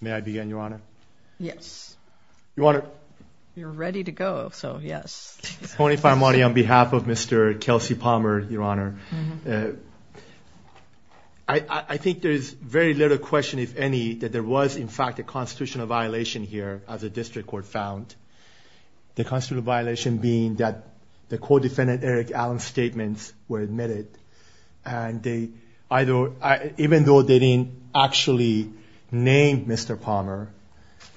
May I begin, Your Honor? Yes. Your Honor. You're ready to go, so yes. Tony Faramudi on behalf of Mr. Kelsie Palmer, Your Honor. I think there is very little question, if any, that there was, in fact, a constitutional violation here as a district court found. The constitutional violation being that the co-defendant Eric Allen's statements were admitted, and even though they didn't actually name Mr. Palmer,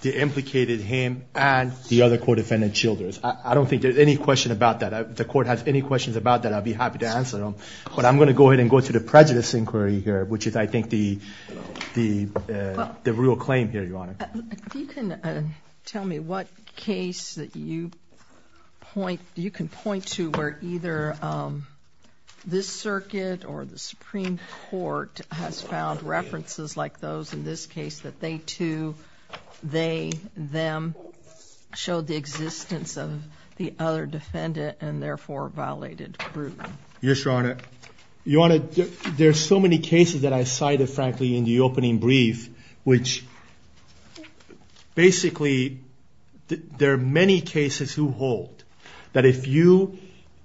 they implicated him and the other co-defendant Childers. I don't think there's any question about that. If the court has any questions about that, I'd be happy to answer them. But I'm going to go ahead and go to the prejudice inquiry here, which is, I think, the real claim here, Your Honor. If you can tell me what case that you can point to where either this circuit or the Supreme Court has found references like those in this case, that they, too, they, them, showed the existence of the other defendant and therefore violated proof. Yes, Your Honor. There are so many cases that I cited, frankly, in the opening brief, which basically there are many cases who hold that if you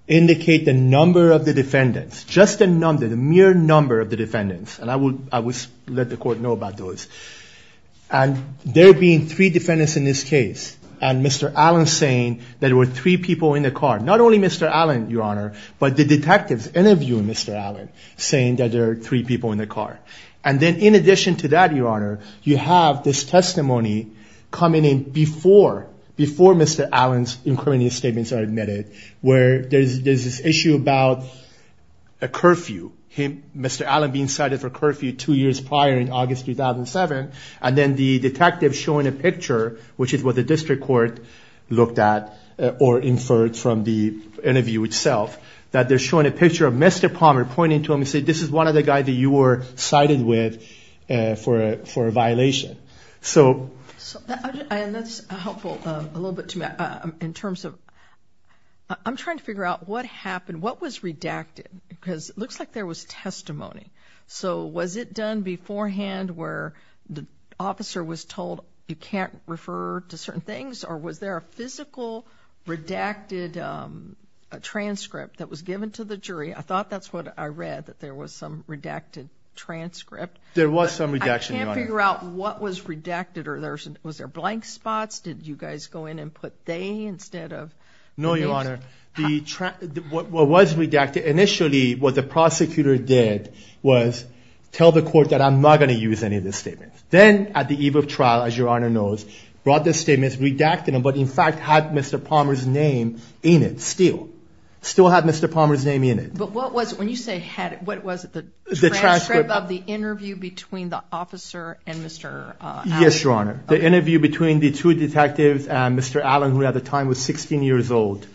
indicate the number of the defendants, just the number, the mere number of the defendants, and I would let the court know about those, and there being three defendants in this case and Mr. Allen saying that there were three people in the car, not only Mr. Allen, Your Honor, but the detectives interviewing Mr. Allen saying that there are three people in the car. And then in addition to that, Your Honor, you have this testimony coming in before Mr. Allen's incriminating statements are admitted, where there's this issue about a curfew, Mr. Allen being cited for curfew two years prior in August 2007, and then the detective showing a picture, which is what the district court looked at or inferred from the interview itself, that they're showing a picture of Mr. Palmer pointing to him and saying, this is one of the guys that you were cited with for a violation. So that's helpful a little bit to me in terms of I'm trying to figure out what happened. What was redacted? Because it looks like there was testimony. So was it done beforehand where the officer was told you can't refer to certain things, or was there a physical redacted transcript that was given to the jury? I thought that's what I read, that there was some redacted transcript. There was some redaction, Your Honor. I can't figure out what was redacted. Was there blank spots? Did you guys go in and put they instead of they? No, Your Honor. What was redacted initially, what the prosecutor did was tell the court that I'm not going to use any of this statement. Then at the eve of trial, as Your Honor knows, brought this statement, redacted it, but in fact had Mr. Palmer's name in it still. Still had Mr. Palmer's name in it. But what was it? When you say had it, what was it, the transcript of the interview between the officer and Mr. Allen? Yes, Your Honor. The interview between the two detectives and Mr. Allen, who at the time was 16 years old,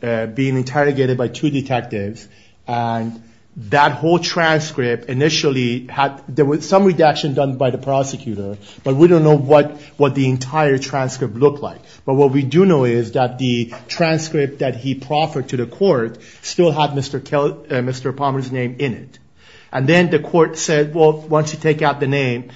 being interrogated by two detectives, and that whole transcript initially had some redaction done by the prosecutor, but we don't know what the entire transcript looked like. But what we do know is that the transcript that he proffered to the court still had Mr. Palmer's name in it. And then the court said, well, once you take out the name,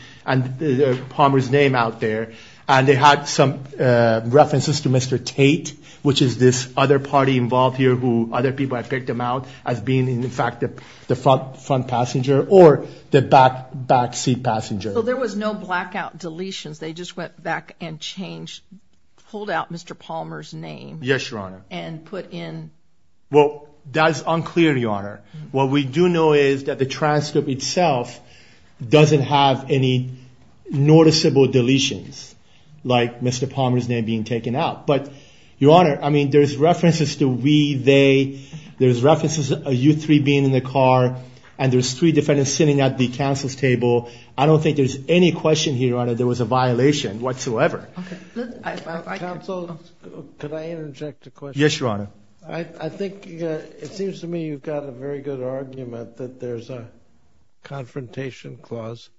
Palmer's name out there, and they had some references to Mr. Tate, which is this other party involved here, who other people have picked him out as being in fact the front passenger or the backseat passenger. So there was no blackout deletions. They just went back and changed, pulled out Mr. Palmer's name. Yes, Your Honor. And put in? Well, that's unclear, Your Honor. What we do know is that the transcript itself doesn't have any noticeable deletions, like Mr. Palmer's name being taken out. But, Your Honor, I mean, there's references to we, they, there's references to you three being in the car, and there's three defendants sitting at the counsel's table. I don't think there's any question here, Your Honor, there was a violation whatsoever. Counsel, could I interject a question? Yes, Your Honor. I think, it seems to me you've got a very good argument that there's a confrontation clause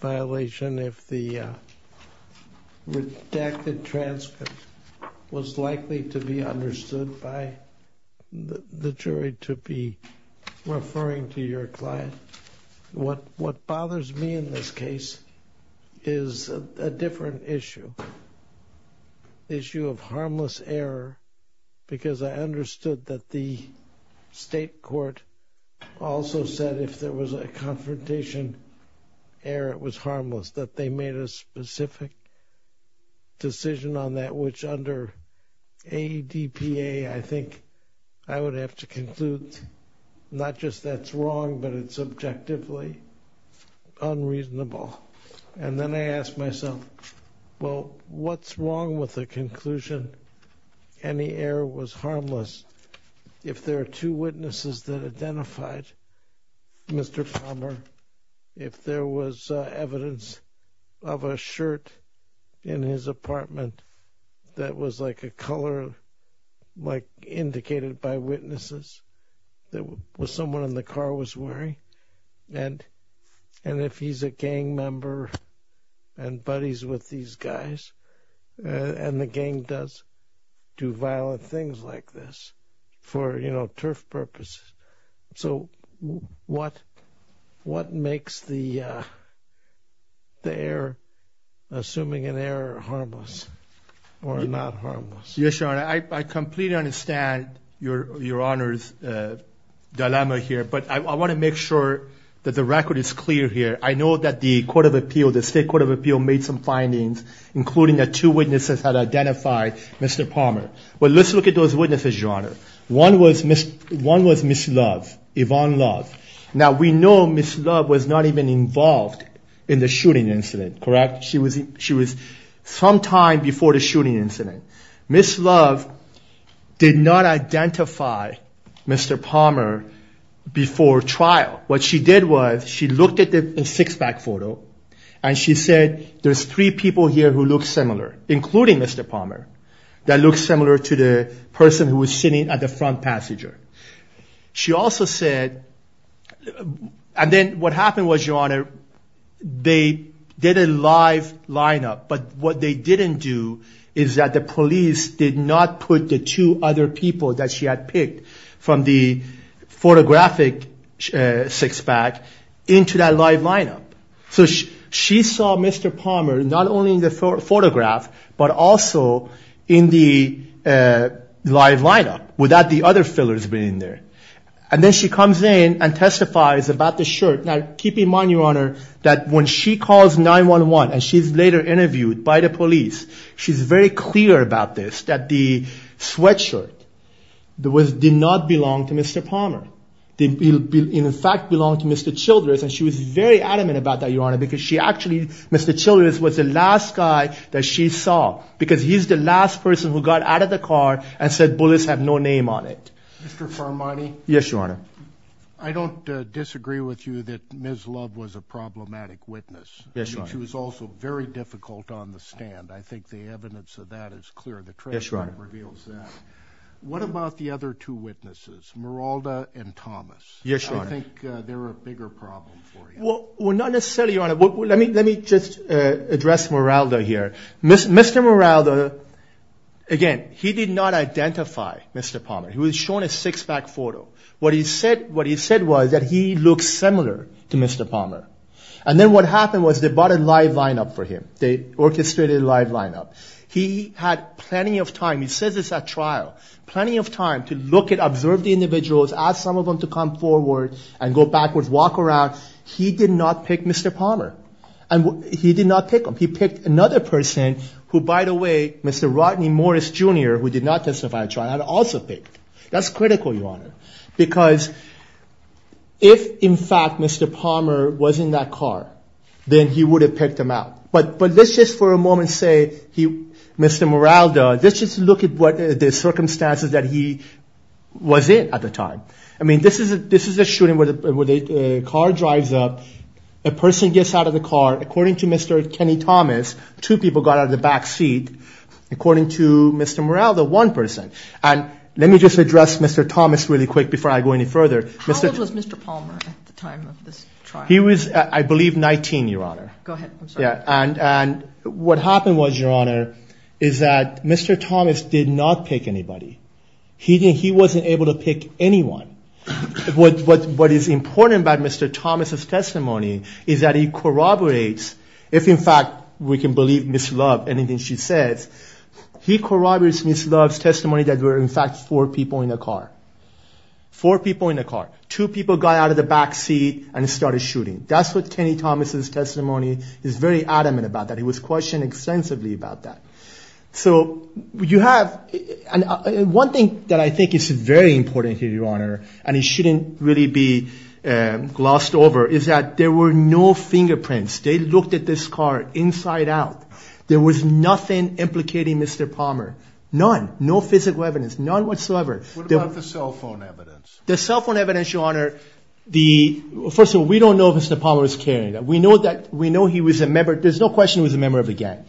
violation if the redacted transcript was likely to be understood by the jury to be referring to your client. What bothers me in this case is a different issue, issue of harmless error, because I understood that the state court also said if there was a confrontation error, it was harmless, that they made a specific decision on that, which under ADPA, I think I would have to conclude not just that's wrong, but it's objectively unreasonable. And then I ask myself, well, what's wrong with the conclusion any error was harmless? If there are two witnesses that identified Mr. Palmer, if there was evidence of a shirt in his apartment that was like a color, like indicated by witnesses, that someone in the car was wearing, and if he's a gang member and buddies with these guys, and the gang does do violent things like this for turf purposes, so what makes the error, assuming an error, harmless or not harmless? Yes, Your Honor, I completely understand Your Honor's dilemma here, but I want to make sure that the record is clear here. I know that the state court of appeal made some findings, including that two witnesses had identified Mr. Palmer. Well, let's look at those witnesses, Your Honor. One was Ms. Love, Yvonne Love. Now, we know Ms. Love was not even involved in the shooting incident, correct? She was sometime before the shooting incident. Ms. Love did not identify Mr. Palmer before trial. What she did was she looked at the six-pack photo, and she said there's three people here who look similar, including Mr. Palmer, that look similar to the person who was sitting at the front passenger. She also said, and then what happened was, Your Honor, they did a live lineup, but what they didn't do is that the police did not put the two other people that she had picked from the photographic six-pack into that live lineup. So she saw Mr. Palmer not only in the photograph but also in the live lineup without the other fillers being there. And then she comes in and testifies about the shirt. Now, keep in mind, Your Honor, that when she calls 911 and she's later interviewed by the police, she's very clear about this, that the sweatshirt did not belong to Mr. Palmer. It in fact belonged to Mr. Childress, and she was very adamant about that, Your Honor, because she actually, Mr. Childress was the last guy that she saw because he's the last person who got out of the car and said, Bullets have no name on it. Mr. Farmani? Yes, Your Honor. I don't disagree with you that Ms. Love was a problematic witness. Yes, Your Honor. She was also very difficult on the stand. I think the evidence of that is clear. Yes, Your Honor. The testimony reveals that. What about the other two witnesses, Meralda and Thomas? Yes, Your Honor. I think they're a bigger problem for you. Well, not necessarily, Your Honor. Let me just address Meralda here. Mr. Meralda, again, he did not identify Mr. Palmer. He was shown a six-pack photo. What he said was that he looked similar to Mr. Palmer. And then what happened was they bought a live lineup for him. They orchestrated a live lineup. He had plenty of time. He says it's at trial. Plenty of time to look at, observe the individuals, ask some of them to come forward and go backwards, walk around. He did not pick Mr. Palmer. He did not pick him. He picked another person who, by the way, Mr. Rodney Morris, Jr., who did not testify at trial, had also picked. That's critical, Your Honor, because if, in fact, Mr. Palmer was in that car, then he would have picked him out. But let's just for a moment say Mr. Meralda, let's just look at the circumstances that he was in at the time. I mean, this is a shooting where the car drives up. A person gets out of the car. According to Mr. Kenny Thomas, two people got out of the back seat. According to Mr. Meralda, one person. And let me just address Mr. Thomas really quick before I go any further. How old was Mr. Palmer at the time of this trial? He was, I believe, 19, Your Honor. Go ahead. I'm sorry. And what happened was, Your Honor, is that Mr. Thomas did not pick anybody. He wasn't able to pick anyone. What is important about Mr. Thomas' testimony is that he corroborates, if, in fact, we can believe Ms. Love, anything she says, he corroborates Ms. Love's testimony that there were, in fact, four people in the car. Four people in the car. Two people got out of the back seat and started shooting. That's what Kenny Thomas' testimony is very adamant about. He was questioned extensively about that. So you have one thing that I think is very important here, Your Honor, and it shouldn't really be glossed over, is that there were no fingerprints. They looked at this car inside out. There was nothing implicating Mr. Palmer. None. No physical evidence. None whatsoever. What about the cell phone evidence? The cell phone evidence, Your Honor, the, first of all, we don't know if Mr. Palmer was carrying it. We know he was a member. There's no question he was a member of a gang.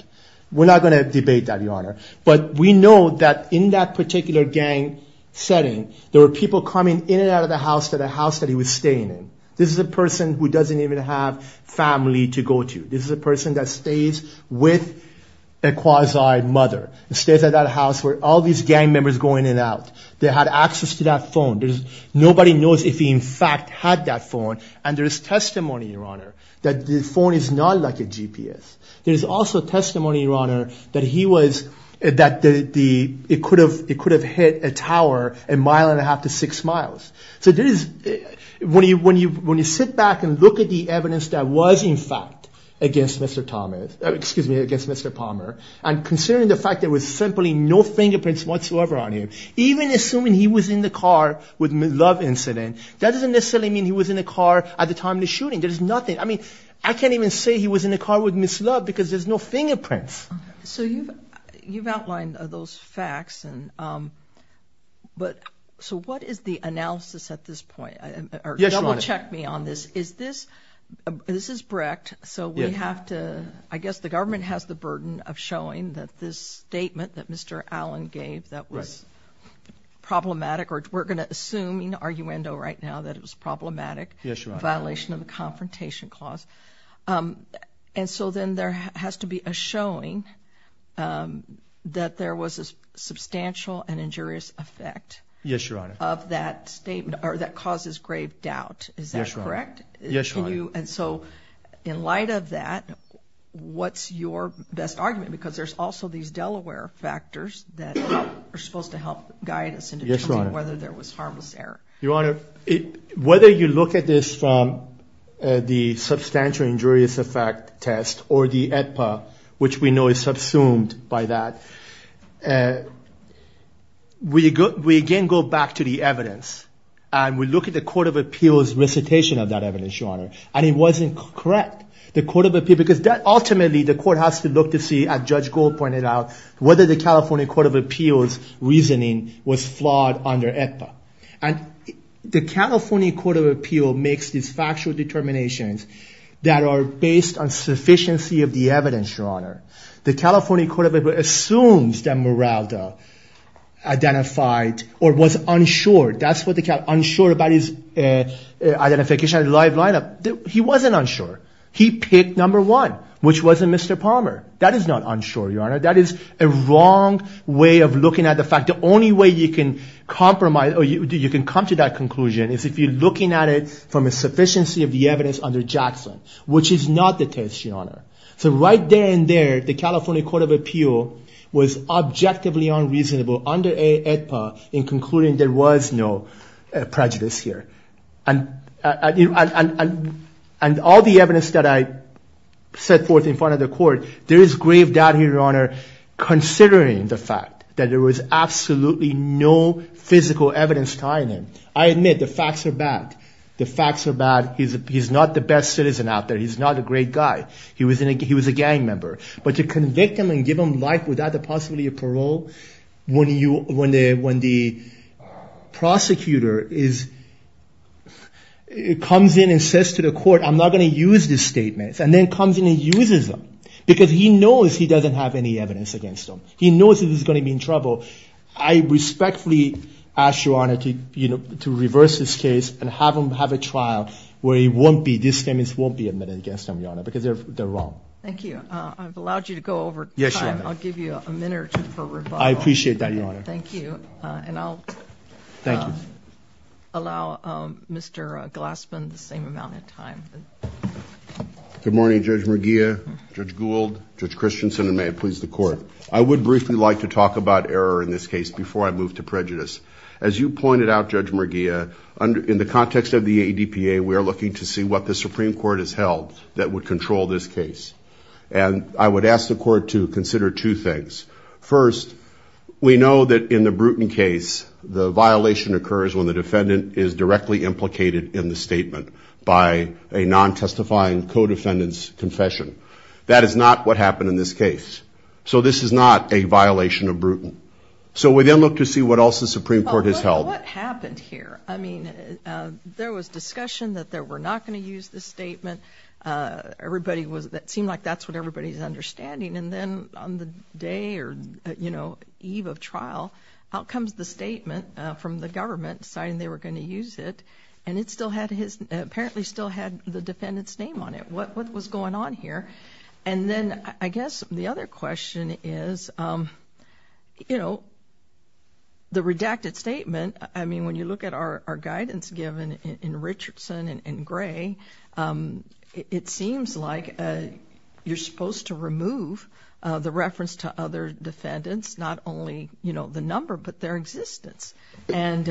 We're not going to debate that, Your Honor. But we know that in that particular gang setting, there were people coming in and out of the house that he was staying in. This is a person who doesn't even have family to go to. This is a person that stays with a quasi-mother. Stays at that house where all these gang members go in and out. They had access to that phone. Nobody knows if he, in fact, had that phone. And there's testimony, Your Honor, that the phone is not like a GPS. There's also testimony, Your Honor, that he was, that the, it could have hit a tower a mile and a half to six miles. So there is, when you sit back and look at the evidence that was, in fact, against Mr. Palmer, and considering the fact there was simply no fingerprints whatsoever on him, even assuming he was in the car with Ms. Love incident, that doesn't necessarily mean he was in the car at the time of the shooting. There's nothing. I mean, I can't even say he was in the car with Ms. Love because there's no fingerprints. So you've outlined those facts, but so what is the analysis at this point? Yes, Your Honor. Double check me on this. Is this, this is Brecht, so we have to, I guess the government has the burden of showing that this statement that Mr. Allen gave that was problematic, or we're going to assume in arguendo right now that it was problematic. Yes, Your Honor. Violation of the Confrontation Clause. And so then there has to be a showing that there was a substantial and injurious effect. Yes, Your Honor. Of that statement, or that causes grave doubt. Yes, Your Honor. Is that correct? Yes, Your Honor. And so in light of that, what's your best argument? Because there's also these Delaware factors that are supposed to help guide us into whether there was harmless error. Your Honor, whether you look at this from the substantial injurious effect test or the AEDPA, which we know is subsumed by that, we again go back to the evidence, and we look at the Court of Appeals recitation of that evidence, Your Honor, and it wasn't correct. The Court of Appeals, because ultimately the court has to look to see, as Judge Gold pointed out, whether the California Court of Appeals reasoning was flawed under AEDPA. And the California Court of Appeals makes these factual determinations that are based on sufficiency of the evidence, Your Honor. The California Court of Appeals assumes that Meralda identified or was unsure. That's what they call unsure about his identification and live lineup. He wasn't unsure. He picked number one, which wasn't Mr. Palmer. That is not unsure, Your Honor. That is a wrong way of looking at the fact. The only way you can compromise or you can come to that conclusion is if you're looking at it from a sufficiency of the evidence under Jackson, which is not the test, Your Honor. So right there and there, the California Court of Appeals was objectively unreasonable under AEDPA in concluding there was no prejudice here. And all the evidence that I set forth in front of the court, there is grave doubt here, Your Honor, considering the fact that there was absolutely no physical evidence tying him. I admit the facts are bad. The facts are bad. He's not the best citizen out there. He's not a great guy. He was a gang member. But to convict him and give him life without the possibility of parole, when the prosecutor comes in and says to the court, I'm not going to use these statements, and then comes in and uses them because he knows he doesn't have any evidence against him. He knows that he's going to be in trouble. I respectfully ask, Your Honor, to reverse this case and have him have a trial where he won't be, these statements won't be admitted against him, Your Honor, because they're wrong. Thank you. I've allowed you to go over time. I'll give you a minute or two for rebuttal. I appreciate that, Your Honor. Thank you. And I'll allow Mr. Glassman the same amount of time. Good morning, Judge Merguia, Judge Gould, Judge Christensen, and may it please the Court. I would briefly like to talk about error in this case before I move to prejudice. As you pointed out, Judge Merguia, in the context of the ADPA, we are looking to see what the Supreme Court has held that would control this case. And I would ask the Court to consider two things. First, we know that in the Bruton case, the violation occurs when the defendant is directly implicated in the statement by a non-testifying co-defendant's confession. That is not what happened in this case. So this is not a violation of Bruton. So we then look to see what else the Supreme Court has held. What happened here? I mean, there was discussion that they were not going to use this statement. It seemed like that's what everybody's understanding. And then on the day or, you know, eve of trial, out comes the statement from the government deciding they were going to use it, and it still had his, apparently still had the defendant's name on it. What was going on here? And then I guess the other question is, you know, the redacted statement, I mean, when you look at our guidance given in Richardson and Gray, it seems like you're supposed to remove the reference to other defendants, not only, you know, the number, but their existence. And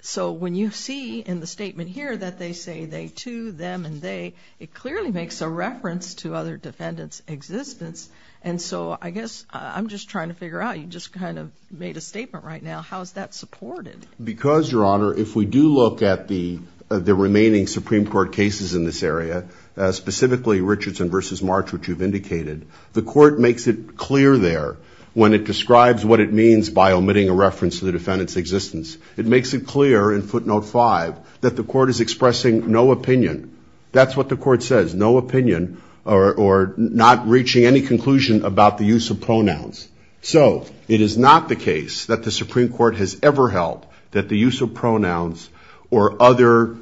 so when you see in the statement here that they say they to, them and they, it clearly makes a reference to other defendants' existence. And so I guess I'm just trying to figure out, you just kind of made a statement right now, how is that supported? Because, Your Honor, if we do look at the remaining Supreme Court cases in this area, specifically Richardson v. March, which you've indicated, the court makes it clear there when it describes what it means by omitting a reference to the defendant's existence. It makes it clear in footnote five that the court is expressing no opinion. That's what the court says, no opinion, or not reaching any conclusion about the use of pronouns. So it is not the case that the Supreme Court has ever held that the use of pronouns or other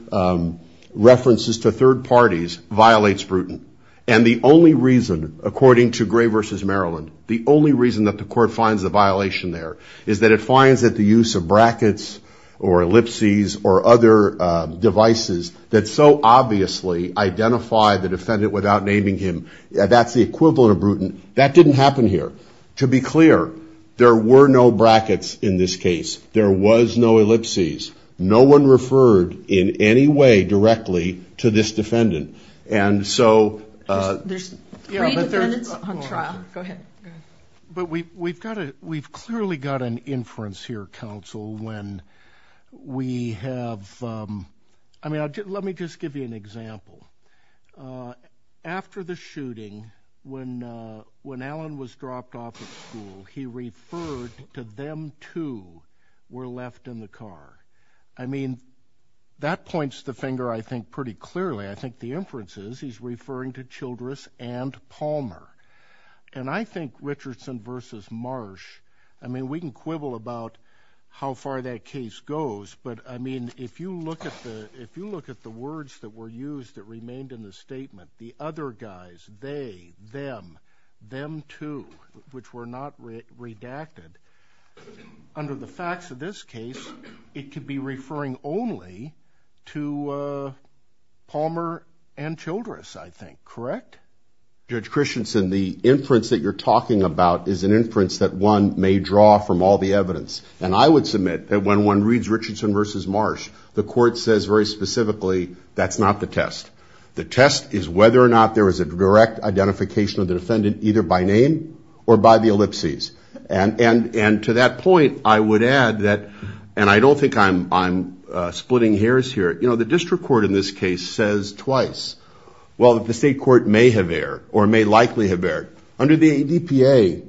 references to third parties violates Bruton. And the only reason, according to Gray v. Maryland, the only reason that the court finds the violation there is that it finds that the use of brackets or ellipses or other devices that so obviously identify the defendant without naming him, that's the equivalent of Bruton. That didn't happen here. To be clear, there were no brackets in this case. There was no ellipses. No one referred in any way directly to this defendant. And so... There's three defendants on trial. Go ahead. But we've clearly got an inference here, counsel, when we have... I mean, let me just give you an example. After the shooting, when Alan was dropped off at school, he referred to them two were left in the car. I mean, that points the finger, I think, pretty clearly. I think the inference is he's referring to Childress and Palmer. And I think Richardson v. Marsh, I mean, we can quibble about how far that case goes, but, I mean, if you look at the words that were used that remained in the statement, the other guys, they, them, them two, which were not redacted, under the facts of this case, it could be referring only to Palmer and Childress, I think, correct? Judge Christensen, the inference that you're talking about is an inference that one may draw from all the evidence. And I would submit that when one reads Richardson v. Marsh, the court says very specifically, that's not the test. The test is whether or not there was a direct identification of the defendant, either by name or by the ellipses. And to that point, I would add that, and I don't think I'm splitting hairs here, you know, the district court in this case says twice, well, the state court may have erred or may likely have erred. Under the ADPA,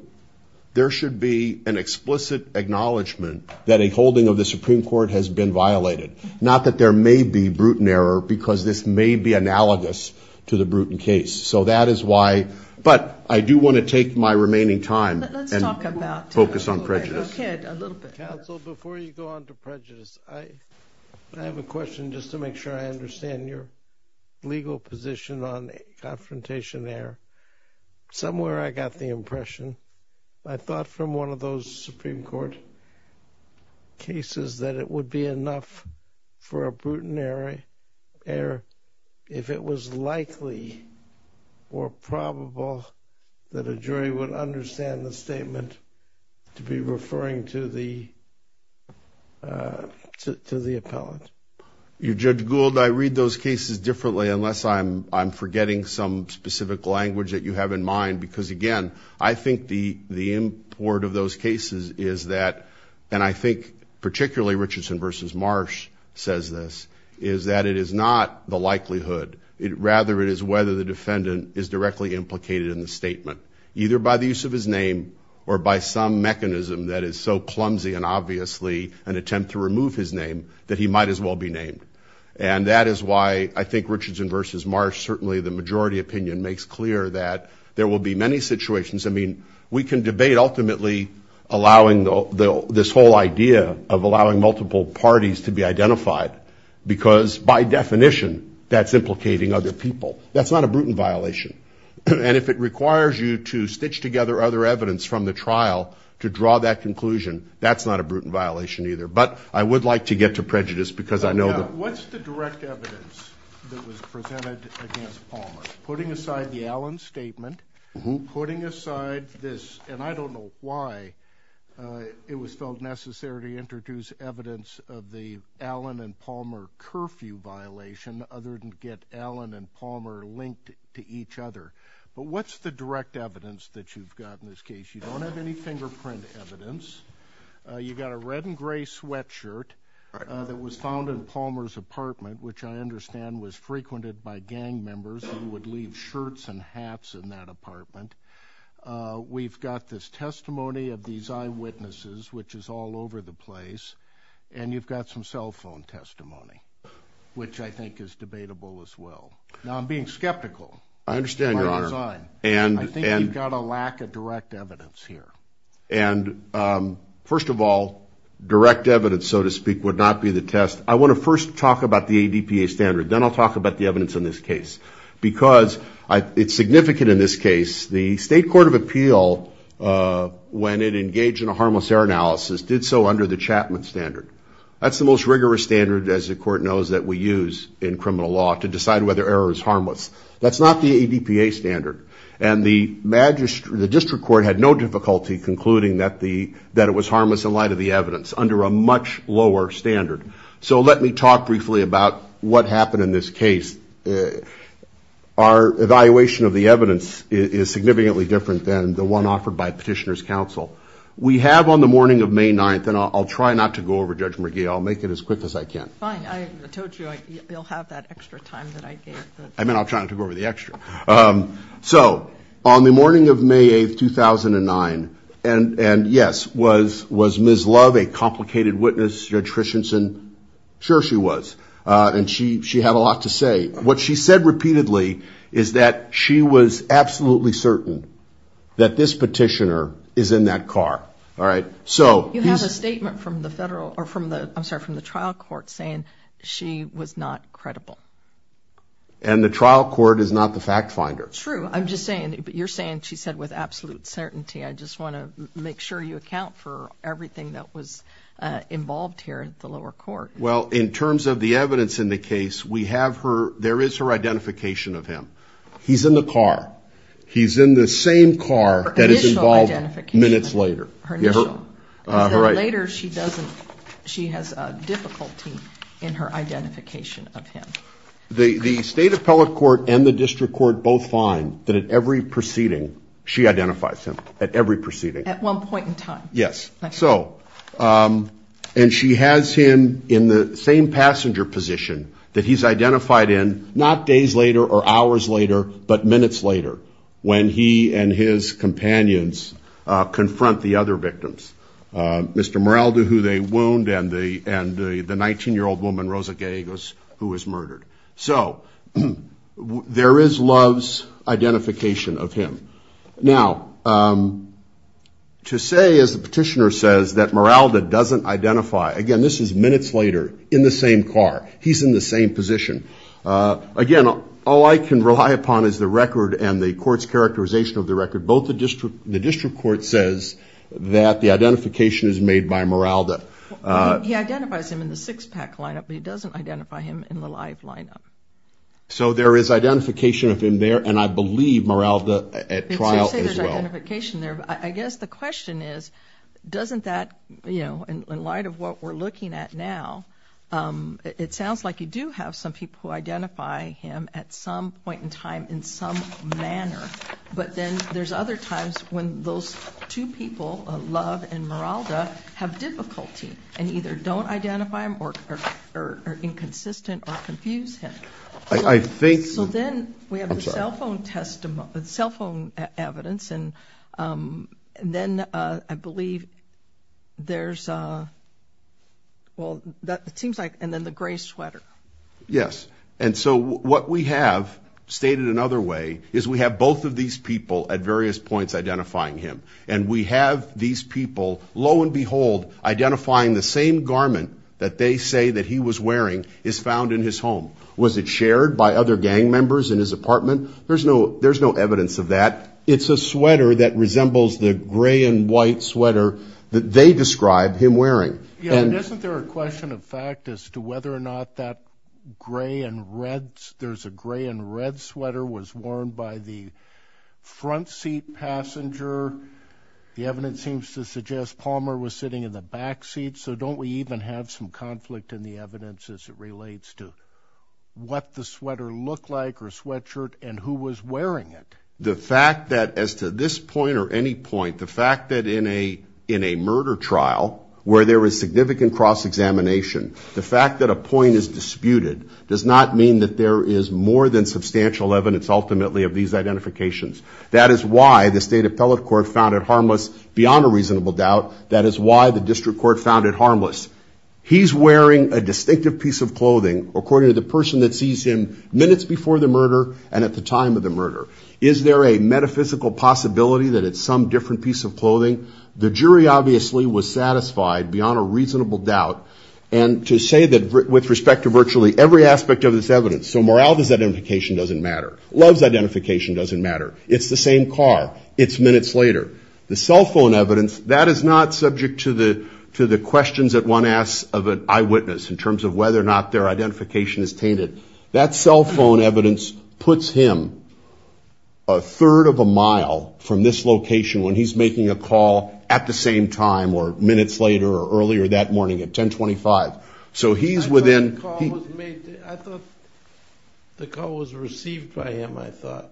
there should be an explicit acknowledgement that a holding of the Supreme Court has been violated, not that there may be brutal error because this may be analogous to the Bruton case. So that is why, but I do want to take my remaining time and focus on prejudice. Counsel, before you go on to prejudice, I have a question just to make sure I understand your legal position on confrontation there. Somewhere I got the impression, I thought from one of those Supreme Court cases, that it would be enough for a brutal error if it was likely or probable that a jury would understand the statement to be referring to the appellant. Judge Gould, I read those cases differently unless I'm forgetting some specific language that you have in mind, because, again, I think the import of those cases is that, and I think particularly Richardson v. Marsh says this, is that it is not the likelihood, rather it is whether the defendant is directly implicated in the statement, either by the use of his name or by some mechanism that is so clumsy and obviously an attempt to remove his name that he might as well be named. And that is why I think Richardson v. Marsh, certainly the majority opinion makes clear that there will be many situations. I mean, we can debate ultimately allowing this whole idea of allowing multiple parties to be identified, because by definition that's implicating other people. That's not a Bruton violation. And if it requires you to stitch together other evidence from the trial to draw that conclusion, that's not a Bruton violation either. But I would like to get to prejudice because I know that... What's the direct evidence that was presented against Palmer? Putting aside the Allen statement, putting aside this, and I don't know why it was felt necessary to introduce evidence of the Allen and Palmer curfew violation other than to get Allen and Palmer linked to each other. But what's the direct evidence that you've got in this case? You don't have any fingerprint evidence. You've got a red and gray sweatshirt that was found in Palmer's apartment, which I understand was frequented by gang members who would leave shirts and hats in that apartment. We've got this testimony of these eyewitnesses, which is all over the place. And you've got some cell phone testimony, which I think is debatable as well. I understand, Your Honor. I think you've got a lack of direct evidence here. And first of all, direct evidence, so to speak, would not be the test. I want to first talk about the ADPA standard. Then I'll talk about the evidence in this case because it's significant in this case. The State Court of Appeal, when it engaged in a harmless error analysis, did so under the Chapman standard. That's the most rigorous standard, as the Court knows, that we use in criminal law to decide whether error is harmless. That's not the ADPA standard. And the district court had no difficulty concluding that it was harmless in light of the evidence under a much lower standard. So let me talk briefly about what happened in this case. Our evaluation of the evidence is significantly different than the one offered by Petitioner's Counsel. We have on the morning of May 9th, and I'll try not to go over, Judge McGee, I'll make it as quick as I can. Fine. I told you you'll have that extra time that I gave. I mean, I'll try not to go over the extra. So on the morning of May 8th, 2009, and, yes, was Ms. Love a complicated witness, Judge Christensen? Sure she was. And she had a lot to say. What she said repeatedly is that she was absolutely certain that this petitioner is in that car, all right? You have a statement from the trial court saying she was not credible. And the trial court is not the fact finder. True. I'm just saying, you're saying she said with absolute certainty. I just want to make sure you account for everything that was involved here at the lower court. Well, in terms of the evidence in the case, we have her, there is her identification of him. He's in the car. He's in the same car that is involved minutes later. Later, she doesn't, she has difficulty in her identification of him. The state appellate court and the district court both find that at every proceeding, she identifies him at every proceeding. At one point in time. Yes. So, and she has him in the same passenger position that he's identified in, not days later or hours later, but minutes later when he and his companions confront the other victims. Mr. Meralda, who they wound, and the 19-year-old woman, Rosa Gay, who was murdered. So, there is Love's identification of him. Now, to say, as the petitioner says, that Meralda doesn't identify, again, this is minutes later, in the same car. He's in the same position. Again, all I can rely upon is the record and the court's characterization of the record. Both the district court says that the identification is made by Meralda. He identifies him in the six-pack lineup, but he doesn't identify him in the live lineup. So, there is identification of him there, and I believe Meralda at trial as well. It seems there's identification there. I guess the question is, doesn't that, you know, in light of what we're looking at now, it sounds like you do have some people who identify him at some point in time in some manner, but then there's other times when those two people, Love and Meralda, have difficulty and either don't identify him or are inconsistent or confuse him. So, then we have the cell phone evidence, and then I believe there's, well, it seems like, and then the gray sweater. Yes, and so what we have, stated another way, is we have both of these people at various points identifying him, and we have these people, lo and behold, identifying the same garment that they say that he was wearing is found in his home. Was it shared by other gang members in his apartment? There's no evidence of that. It's a sweater that resembles the gray and white sweater that they describe him wearing. Yeah, and isn't there a question of fact as to whether or not that gray and red, there's a gray and red sweater was worn by the front seat passenger? The evidence seems to suggest Palmer was sitting in the back seat, so don't we even have some conflict in the evidence as it relates to what the sweater looked like or sweatshirt and who was wearing it? The fact that as to this point or any point, the fact that in a murder trial where there is significant cross-examination, the fact that a point is disputed does not mean that there is more than substantial evidence ultimately of these identifications. That is why the state appellate court found it harmless beyond a reasonable doubt. That is why the district court found it harmless. He's wearing a distinctive piece of clothing according to the person that sees him minutes before the murder and at the time of the murder. Is there a metaphysical possibility that it's some different piece of clothing? The jury obviously was satisfied beyond a reasonable doubt. And to say that with respect to virtually every aspect of this evidence, so morality's identification doesn't matter. Love's identification doesn't matter. It's the same car. It's minutes later. The cell phone evidence, that is not subject to the questions that one asks of an eyewitness in terms of whether or not their identification is tainted. That cell phone evidence puts him a third of a mile from this location when he's making a call at the same time or minutes later or earlier that morning at 1025. So he's within... I thought the call was received by him, I thought.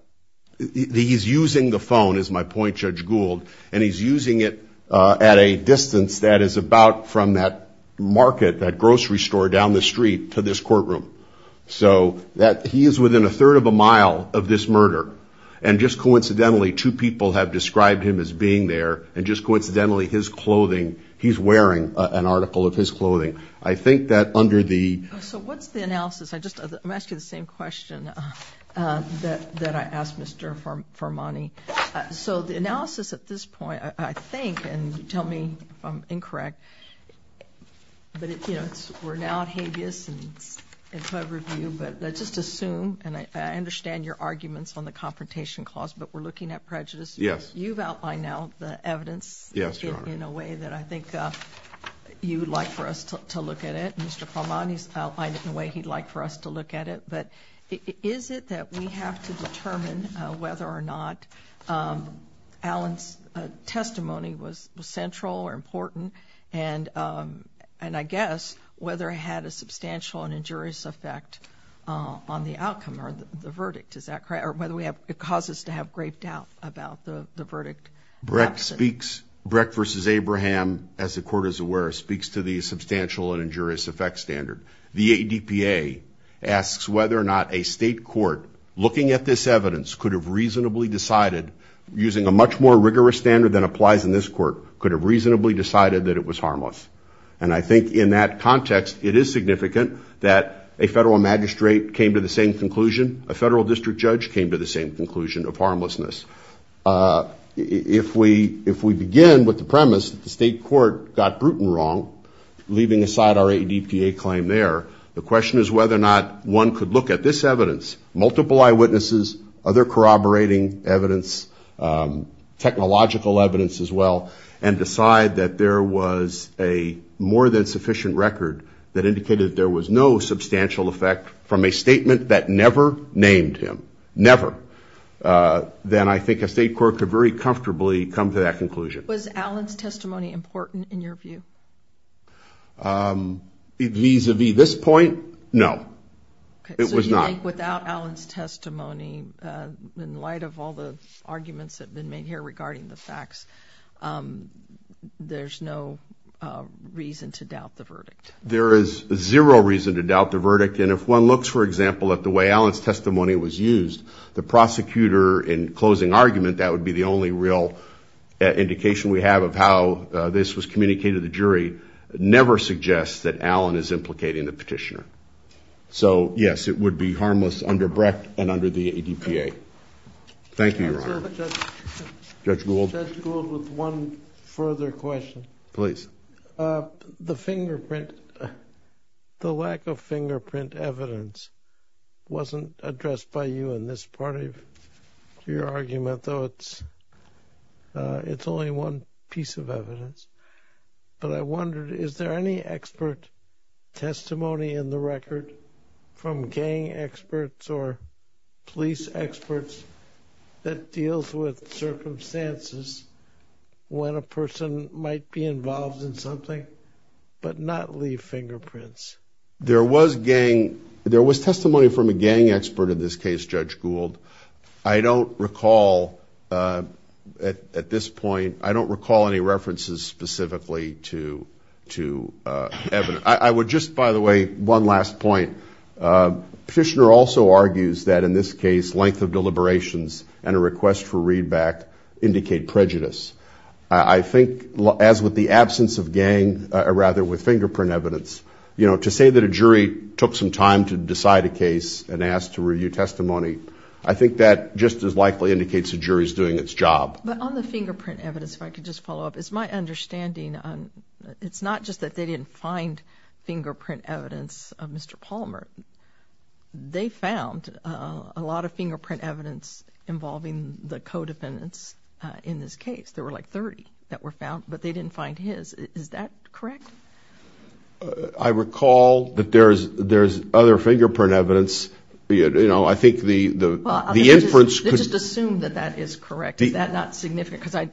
He's using the phone, is my point, Judge Gould, and he's using it at a distance that is about from that market, that grocery store down the street to this courtroom. So he is within a third of a mile of this murder. And just coincidentally, two people have described him as being there, and just coincidentally, his clothing, he's wearing an article of his clothing. I think that under the... So what's the analysis? I'm asking the same question that I asked Mr. Farmani. So the analysis at this point, I think, and you tell me if I'm incorrect, but we're now at habeas and it's in front of review, but let's just assume, and I understand your arguments on the confrontation clause, but we're looking at prejudice. Yes. You've outlined now the evidence. Yes, Your Honor. In a way that I think you would like for us to look at it. Mr. Farmani's outlined it in a way he'd like for us to look at it. But is it that we have to determine whether or not Allen's testimony was central or important, and I guess whether it had a substantial and injurious effect on the outcome or the verdict? Is that correct? Or whether it causes us to have grave doubt about the verdict? Brecht versus Abraham, as the Court is aware, speaks to the substantial and injurious effect standard. The ADPA asks whether or not a state court looking at this evidence could have reasonably decided, using a much more rigorous standard than applies in this court, could have reasonably decided that it was harmless. And I think in that context, it is significant that a federal magistrate came to the same conclusion, a federal district judge came to the same conclusion of harmlessness. If we begin with the premise that the state court got Bruton wrong, leaving aside our ADPA claim there, the question is whether or not one could look at this evidence, multiple eyewitnesses, other corroborating evidence, technological evidence as well, and decide that there was a more than sufficient record that indicated there was no substantial effect from a statement that never named him. Never. Then I think a state court could very comfortably come to that conclusion. Was Allen's testimony important in your view? Vis-a-vis this point, no. It was not. I think without Allen's testimony, in light of all the arguments that have been made here regarding the facts, there's no reason to doubt the verdict. There is zero reason to doubt the verdict. And if one looks, for example, at the way Allen's testimony was used, the prosecutor in closing argument, that would be the only real indication we have of how this was communicated to the jury, never suggests that Allen is implicating the petitioner. So, yes, it would be harmless under Brecht and under the ADPA. Thank you, Your Honor. Judge Gould? Judge Gould, with one further question. Please. The fingerprint, the lack of fingerprint evidence wasn't addressed by you in this part of your argument, though it's only one piece of evidence. But I wondered, is there any expert testimony in the record from gang experts or police experts that deals with circumstances when a person might be involved in something but not leave fingerprints? There was gang, there was testimony from a gang expert in this case, Judge Gould. I don't recall at this point, I don't recall any references specifically to evidence. I would just, by the way, one last point. Petitioner also argues that in this case length of deliberations and a request for readback indicate prejudice. I think as with the absence of gang, or rather with fingerprint evidence, you know, to say that a jury took some time to decide a case and asked to review testimony, I think that just as likely indicates the jury is doing its job. But on the fingerprint evidence, if I could just follow up, it's my understanding, it's not just that they didn't find fingerprint evidence of Mr. Palmer. They found a lot of fingerprint evidence involving the co-defendants in this case. There were like 30 that were found, but they didn't find his. Is that correct? I recall that there's other fingerprint evidence. You know, I think the inference could – Let's just assume that that is correct. Is that not significant?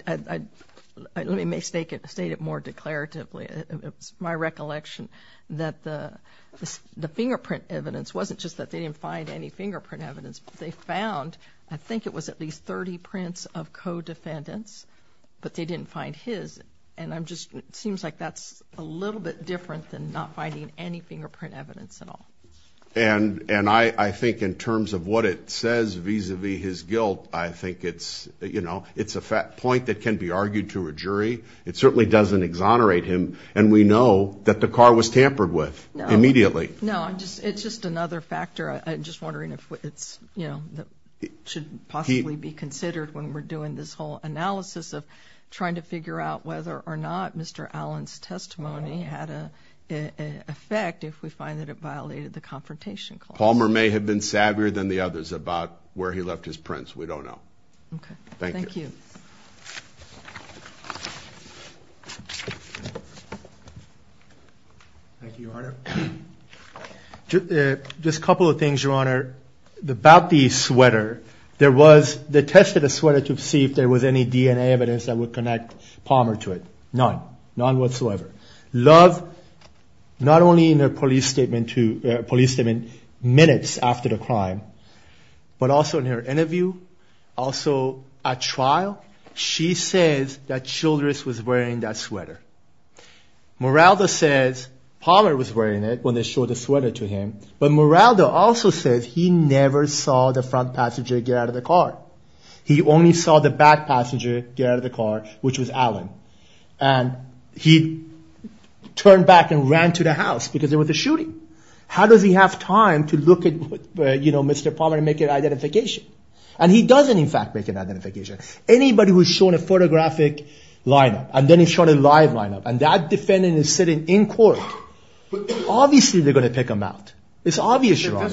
Let me state it more declaratively. It's my recollection that the fingerprint evidence wasn't just that they didn't find any fingerprint evidence. They found, I think it was at least 30 prints of co-defendants, but they didn't find his. And it seems like that's a little bit different than not finding any fingerprint evidence at all. And I think in terms of what it says vis-à-vis his guilt, I think it's a point that can be argued to a jury. It certainly doesn't exonerate him, and we know that the car was tampered with immediately. No, it's just another factor. I'm just wondering if it should possibly be considered when we're doing this whole analysis of trying to figure out whether or not Mr. Allen's testimony had an effect if we find that it violated the confrontation clause. Palmer may have been savvier than the others about where he left his prints. We don't know. Okay. Thank you. Thank you, Your Honor. Just a couple of things, Your Honor. About the sweater, there was – they tested the sweater to see if there was any DNA evidence that would connect Palmer to it. None. None whatsoever. Love, not only in her police statement minutes after the crime, but also in her interview, also at trial, she says that Childress was wearing that sweater. Moraldo says Palmer was wearing it when they showed the sweater to him, but Moraldo also says he never saw the front passenger get out of the car. He only saw the back passenger get out of the car, which was Allen. And he turned back and ran to the house because there was a shooting. How does he have time to look at Mr. Palmer and make an identification? And he doesn't, in fact, make an identification. Anybody who's shown a photographic line-up and then he's shown a live line-up and that defendant is sitting in court, obviously they're going to pick him out. It's obvious, Your Honor.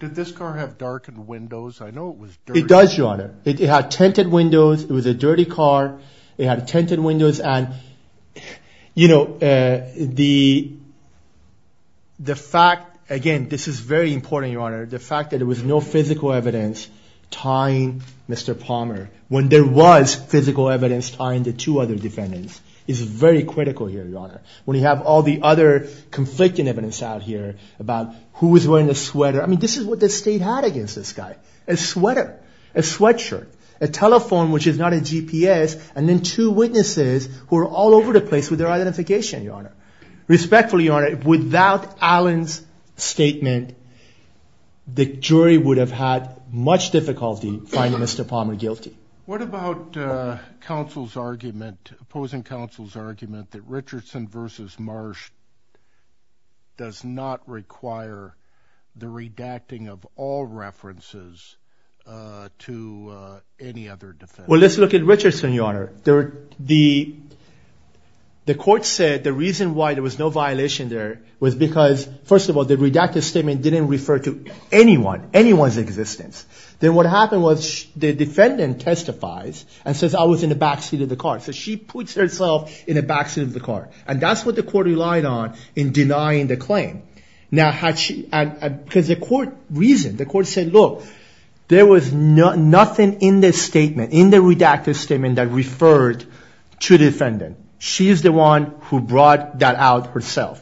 Did this car have darkened windows? I know it was dirty. It does, Your Honor. It had tinted windows. It was a dirty car. It had tinted windows. And, you know, the fact, again, this is very important, Your Honor, the fact that there was no physical evidence tying Mr. Palmer when there was physical evidence tying the two other defendants is very critical here, Your Honor. When you have all the other conflicting evidence out here about who was wearing the sweater, I mean, this is what the state had against this guy. A sweater. A sweatshirt. A telephone, which is not a GPS, and then two witnesses who are all over the place with their identification, Your Honor. Respectfully, Your Honor, without Allen's statement, the jury would have had much difficulty finding Mr. Palmer guilty. What about counsel's argument, opposing counsel's argument that Richardson v. Marsh does not require the redacting of all references to any other defendants? Well, let's look at Richardson, Your Honor. The court said the reason why there was no violation there was because, first of all, the redacted statement didn't refer to anyone, anyone's existence. Then what happened was the defendant testifies and says, I was in the backseat of the car. So she puts herself in the backseat of the car. And that's what the court relied on in denying the claim. Now, because the court reasoned, the court said, look, there was nothing in the statement, in the redacted statement that referred to the defendant. She is the one who brought that out herself.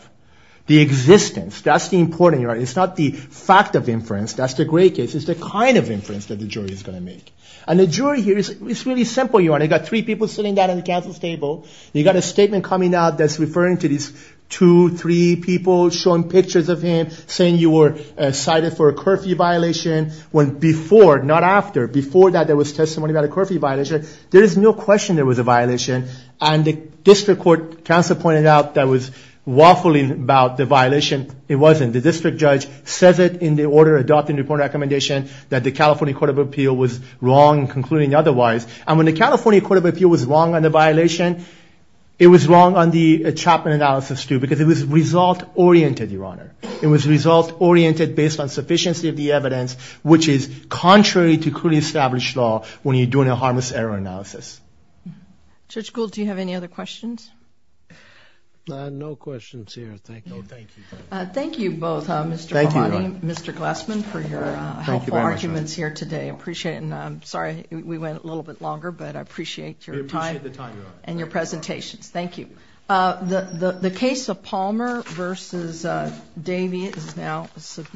The existence, that's the important, Your Honor. It's not the fact of inference. That's the great case. It's the kind of inference that the jury is going to make. And the jury here, it's really simple, Your Honor. You've got three people sitting down at the counsel's table. You've got a statement coming out that's referring to these two, three people showing pictures of him, saying you were cited for a curfew violation. When before, not after, before that there was testimony about a curfew violation, there is no question there was a violation. And the district court counsel pointed out that was waffling about the violation. It wasn't. The district judge says it in the order adopting the report recommendation that the California Court of Appeal was wrong in concluding otherwise. And when the California Court of Appeal was wrong on the violation, it was wrong on the Chapman analysis, too, because it was result-oriented, Your Honor. It was result-oriented based on sufficiency of the evidence, which is contrary to clearly established law when you're doing a harmless error analysis. Judge Gould, do you have any other questions? No questions here. Thank you. No, thank you. Thank you both, Mr. Bonnie and Mr. Glassman, for your helpful arguments here today. I appreciate it. And I'm sorry we went a little bit longer, but I appreciate your time and your presentations. Thank you. The case of Palmer v. Davey is now submitted.